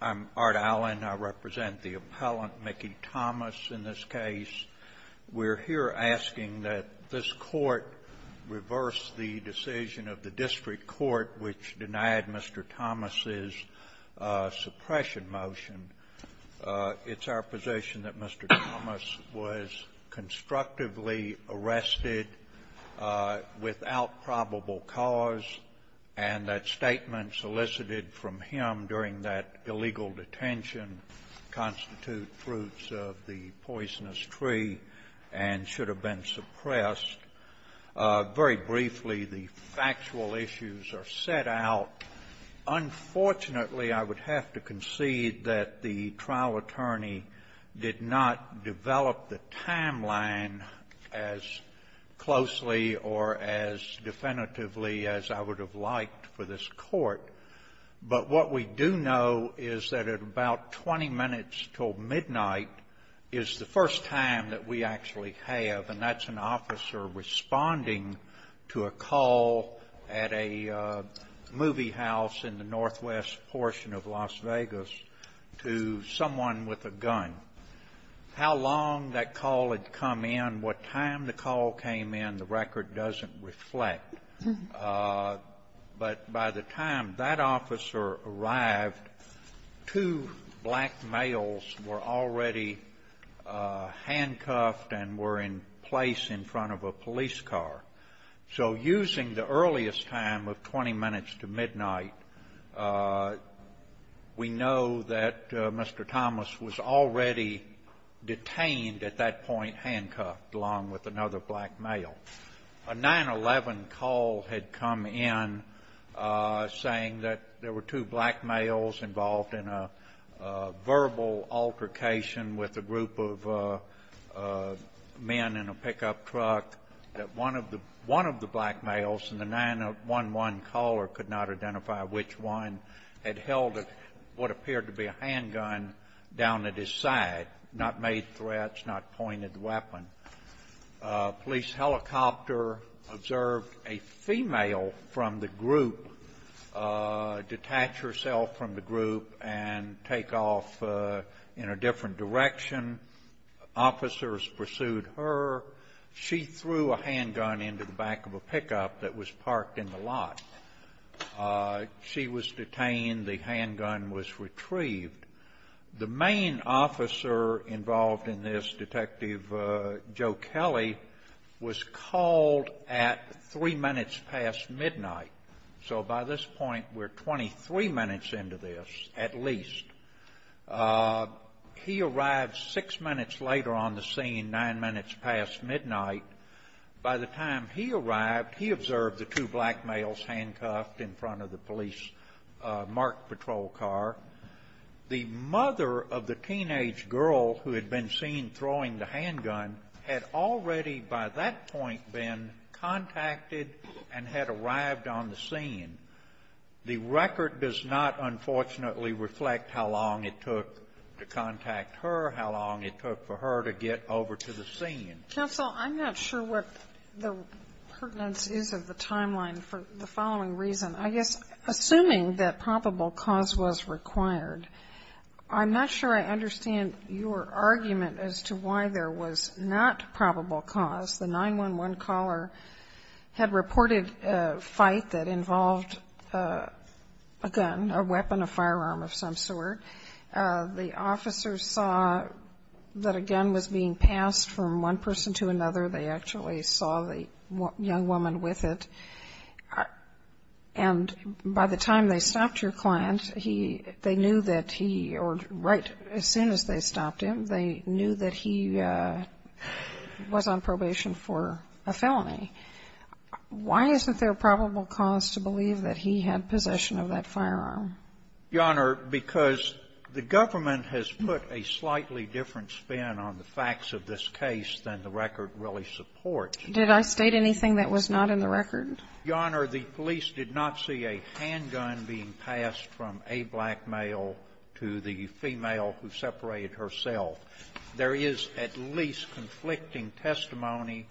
I'm Art Allen. I represent the appellant, Mickey Thomas, in this case. We're here asking that this Court reverse the decision of the district court which denied Mr. Thomas's suppression motion. It's our position that Mr. Thomas was constructively arrested without probable cause, and that statements elicited from him during that illegal detention constitute fruits of the poisonous tree and should have been suppressed. Very briefly, the factual issues are set out. Unfortunately, I would have to concede that the trial attorney did not develop the timeline as closely or as definitively as I would have liked for this Court. But what we do know is that at about 20 minutes till midnight is the first time that we actually have, and that's an officer responding to a call at a movie house in the northwest portion of Las Vegas to someone with a gun. How long that call had come in, what time the call came in, the record doesn't reflect. But by the time that officer arrived, two black males were already handcuffed and were in place in front of a police car. So using the earliest time of 20 minutes to midnight, we know that Mr. Thomas was already detained at that point, handcuffed, along with another black male. A 9-11 call had come in saying that there were two black males involved in a verbal altercation with a group of men in a pickup truck, that one of the black males in the 9-11 caller could not identify which one had held what appeared to be a handgun down at his side, not made threats, not pointed weapon. Police helicopter observed a female from the group detach herself from the group and take off in a different direction. Officers pursued her. She threw a handgun into the back of a pickup that was parked in the lot. She was detained. The handgun was retrieved. The main officer involved in this, Detective Joe Kelly, was called at 3 minutes past midnight. So by this point, we're 23 minutes into this at least. He arrived 6 minutes later on the scene, 9 minutes past midnight. By the time he arrived, he observed the two black males handcuffed in front of the police marked patrol car. The mother of the teenage girl who had been seen throwing the handgun had already by that point been contacted and had arrived on the scene. The record does not, unfortunately, reflect how long it took to contact her, how long it took for her to get over to the scene. Counsel, I'm not sure what the pertinence is of the timeline for the following reason. I guess, assuming that probable cause was required, I'm not sure I understand your argument as to why there was not probable cause. The 911 caller had reported a fight that involved a gun, a weapon, a firearm of some sort. The officers saw that a gun was being passed from one person to another. They actually saw the young woman with it. And by the time they stopped your client, they knew that he or right as soon as they stopped him, they knew that he was on probation for a felony. Why isn't there a probable cause to believe that he had possession of that firearm? Your Honor, because the government has put a slightly different spin on the facts of this case than the record really supports. Did I state anything that was not in the record? Your Honor, the police did not see a handgun being passed from a black male to the female who separated herself. There is at least conflicting testimony.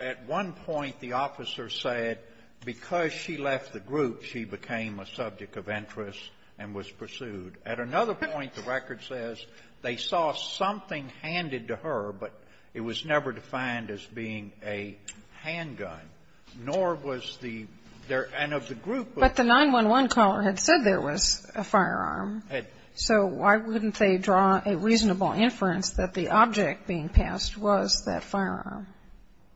At one point, the officer said because she left the group, she became a subject of interest and was pursued. At another point, the record says they saw something handed to her, but it was never defined as being a handgun, nor was the end of the group. But the 911 caller had said there was a firearm. Had. So why wouldn't they draw a reasonable inference that the object being passed was that firearm?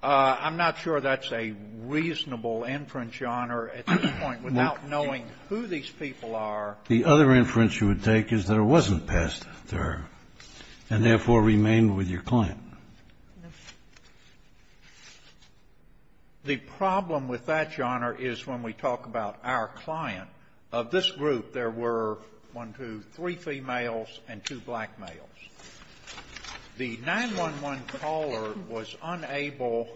I'm not sure that's a reasonable inference, Your Honor, at this point, without knowing who these people are. The other inference you would take is that it wasn't passed to her and, therefore, remained with your client. The problem with that, Your Honor, is when we talk about our client, of this group, there were, one, two, three females and two black males. The 911 caller was unable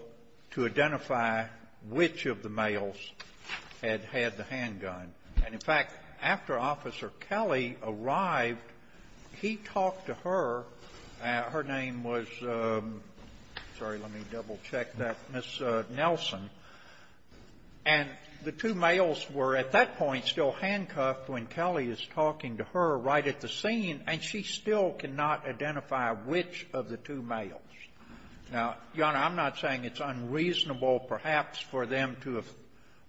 to identify which of the males had had the handgun. And, in fact, after Officer Kelly arrived, he talked to her. Her name was — sorry, let me double-check that — Ms. Nelson. And the two males were, at that point, still handcuffed when Kelly is talking to her right at the scene, and she still cannot identify which of the two males. Now, Your Honor, I'm not saying it's unreasonable, perhaps, for them to have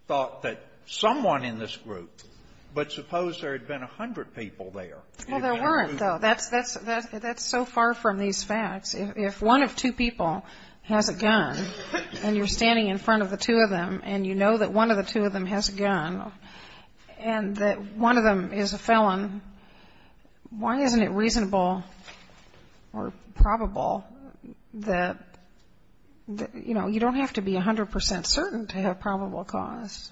thought that someone in this group, but suppose there had been a hundred people there. Well, there weren't, though. That's so far from these facts. If one of two people has a gun, and you're standing in front of the two of them, and you know that one of the two of them has a gun, and that one of them is a felon, why isn't it reasonable or probable that, you know, you don't have to be 100 percent certain to have probable cause?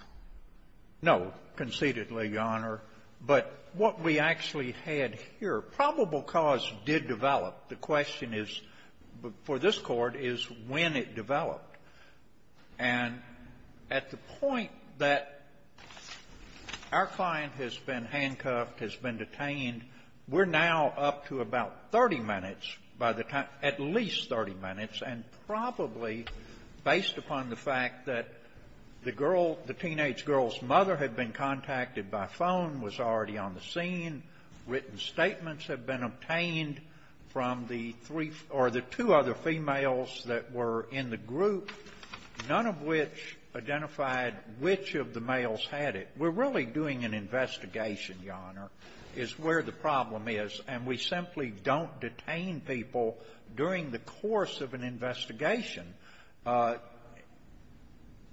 No, concededly, Your Honor. But what we actually had here, probable cause did develop. The question is, for this Court, is when it developed. And at the point that our client has been handcuffed, has been detained, we're now up to about 30 minutes by the time — at least 30 minutes, and probably based upon the fact that the girl, the teenage girl's mother had been contacted by phone, was already on the scene, written statements had been obtained from the three — or the two other females that were in the group, none of which identified which of the males had it. We're really doing an investigation, Your Honor, is where the problem is. And we simply don't detain people during the course of an investigation,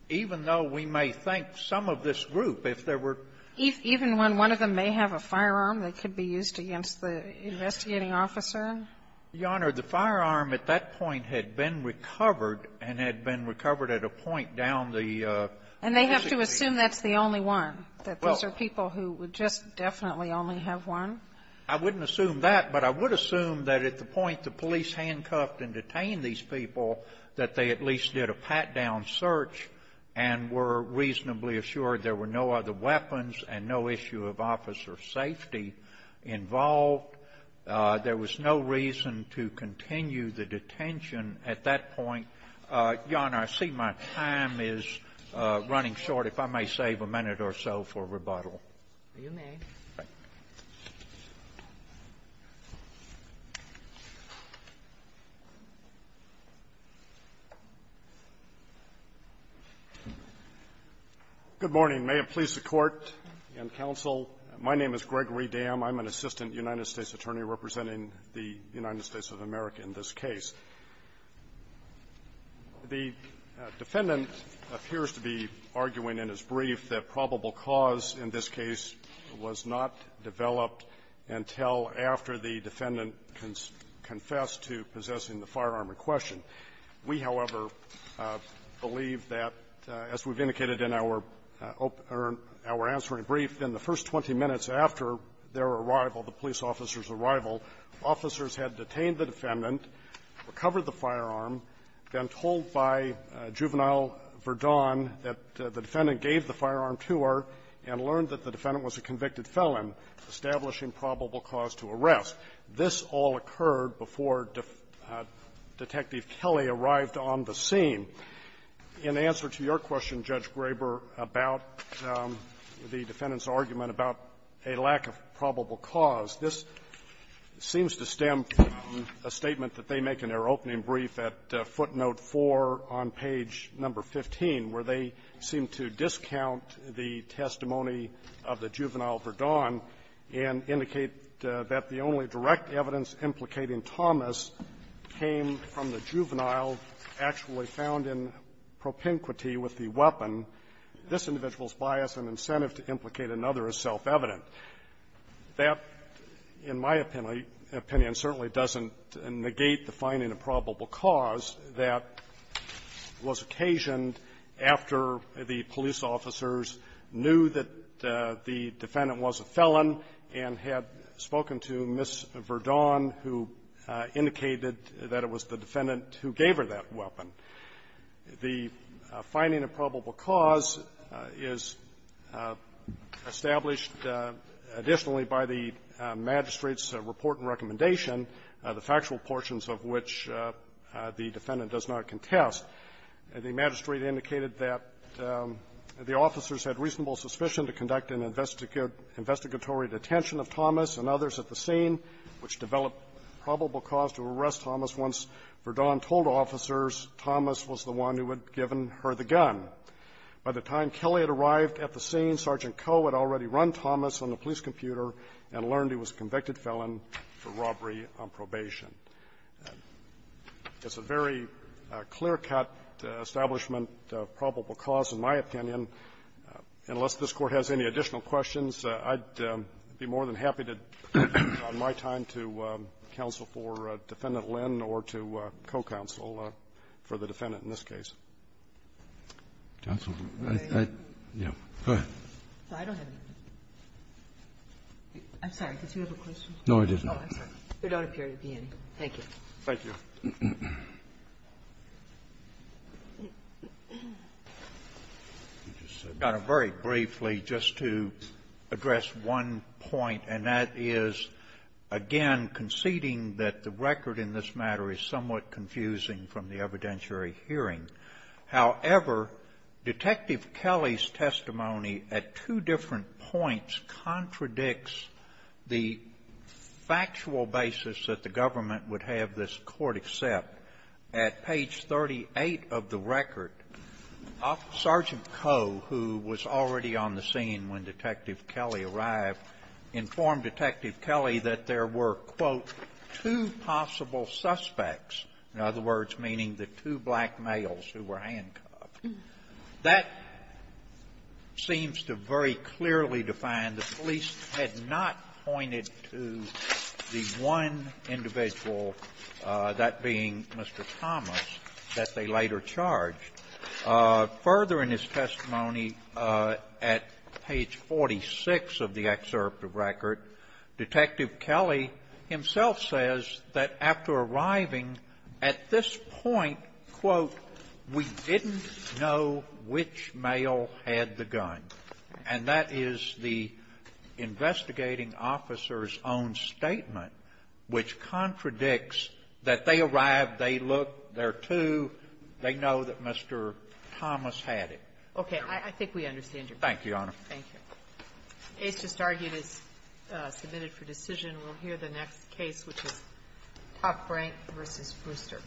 even though we may think some of this group, if there were — Even when one of them may have a firearm that could be used against the investigating officer? Your Honor, the firearm at that point had been recovered, and had been recovered at a point down the — And they have to assume that's the only one, that those are people who would just definitely only have one? I wouldn't assume that, but I would assume that at the point the police handcuffed and detained these people, that they at least did a pat-down search and were reasonably assured there were no other weapons and no issue of officer safety involved. There was no reason to continue the detention at that point. Your Honor, I see my time is running short. If I may save a minute or so for rebuttal. If you may. Good morning. May it please the Court and counsel, my name is Gregory Dam. I'm an assistant United States attorney representing the United States of America in this case. The defendant appears to be arguing in his brief that probable cause in this case was not developed until after the defendant confessed to possessing the firearm in question. We, however, believe that, as we've indicated in our opening — or our answering brief, in the first 20 minutes after their arrival, the police officer's arrival, officers had detained the defendant, recovered the firearm, been told by Juvenile Verdun that the defendant gave the firearm to her and learned that the defendant was a convicted felon, establishing probable cause to arrest. This all occurred before Detective Kelley arrived on the scene. In answer to your question, Judge Graber, about the defendant's argument about a lack of probable cause, this seems to stem from a statement that they make in their opening brief at footnote 4 on page number 15, where they seem to discount the testimony of the Juvenile Verdun and indicate that the only direct evidence implicating Thomas came from the juvenile actually found in propinquity with the weapon. This individual's bias and incentive to implicate another is self-evident. That, in my opinion, certainly doesn't negate the finding of probable cause that was occasioned after the police officers knew that the defendant was a felon and had spoken to Ms. Verdun, who indicated that it was the defendant who gave her that weapon. The finding of probable cause is established, additionally, by the magistrate's report and recommendation, the factual portions of which the defendant does not contest. The magistrate indicated that the officers had reasonable suspicion to conduct an investigatory detention of Thomas and others at the scene, which developed probable cause to arrest Thomas once Verdun told officers Thomas was the one who had given her the gun. By the time Kelly had arrived at the scene, Sergeant Coe had already run Thomas on the police computer and learned he was a convicted felon for robbery on probation. It's a very clear-cut establishment of probable cause, in my opinion. Unless this Court has any additional questions, I'd be more than happy to, on my time here, to counsel for Defendant Lynn or to co-counsel for the defendant in this case. Roberts. Go ahead. I don't have any. I'm sorry. Did you have a question? No, I didn't. Oh, I'm sorry. There don't appear to be any. Thank you. Thank you. I just want to very briefly just to address one point, and that is, again, conceding that the record in this matter is somewhat confusing from the evidentiary hearing. However, Detective Kelly's testimony at two different points contradicts the factual basis that the government would have this Court accept. At page 38 of the record, Sergeant Coe, who was already on the scene when Detective Kelly arrived, informed Detective Kelly that there were, quote, two possible suspects, in other words, meaning the two black males who were handcuffed. That seems to very clearly define the police had not pointed to the one individual, that being Mr. Thomas, that they later charged. Further in his testimony at page 46 of the excerpt of record, Detective Kelly himself says that after arriving at this point, quote, we didn't know which male had the gun. And that is the investigating officer's own statement, which contradicts that they arrived, they looked, there are two, they know that Mr. Thomas had it. Okay. I think we understand your point. Thank you, Your Honor. Thank you. Ace just argued is submitted for decision. We'll hear the next case, which is Top Rank v. Brewster.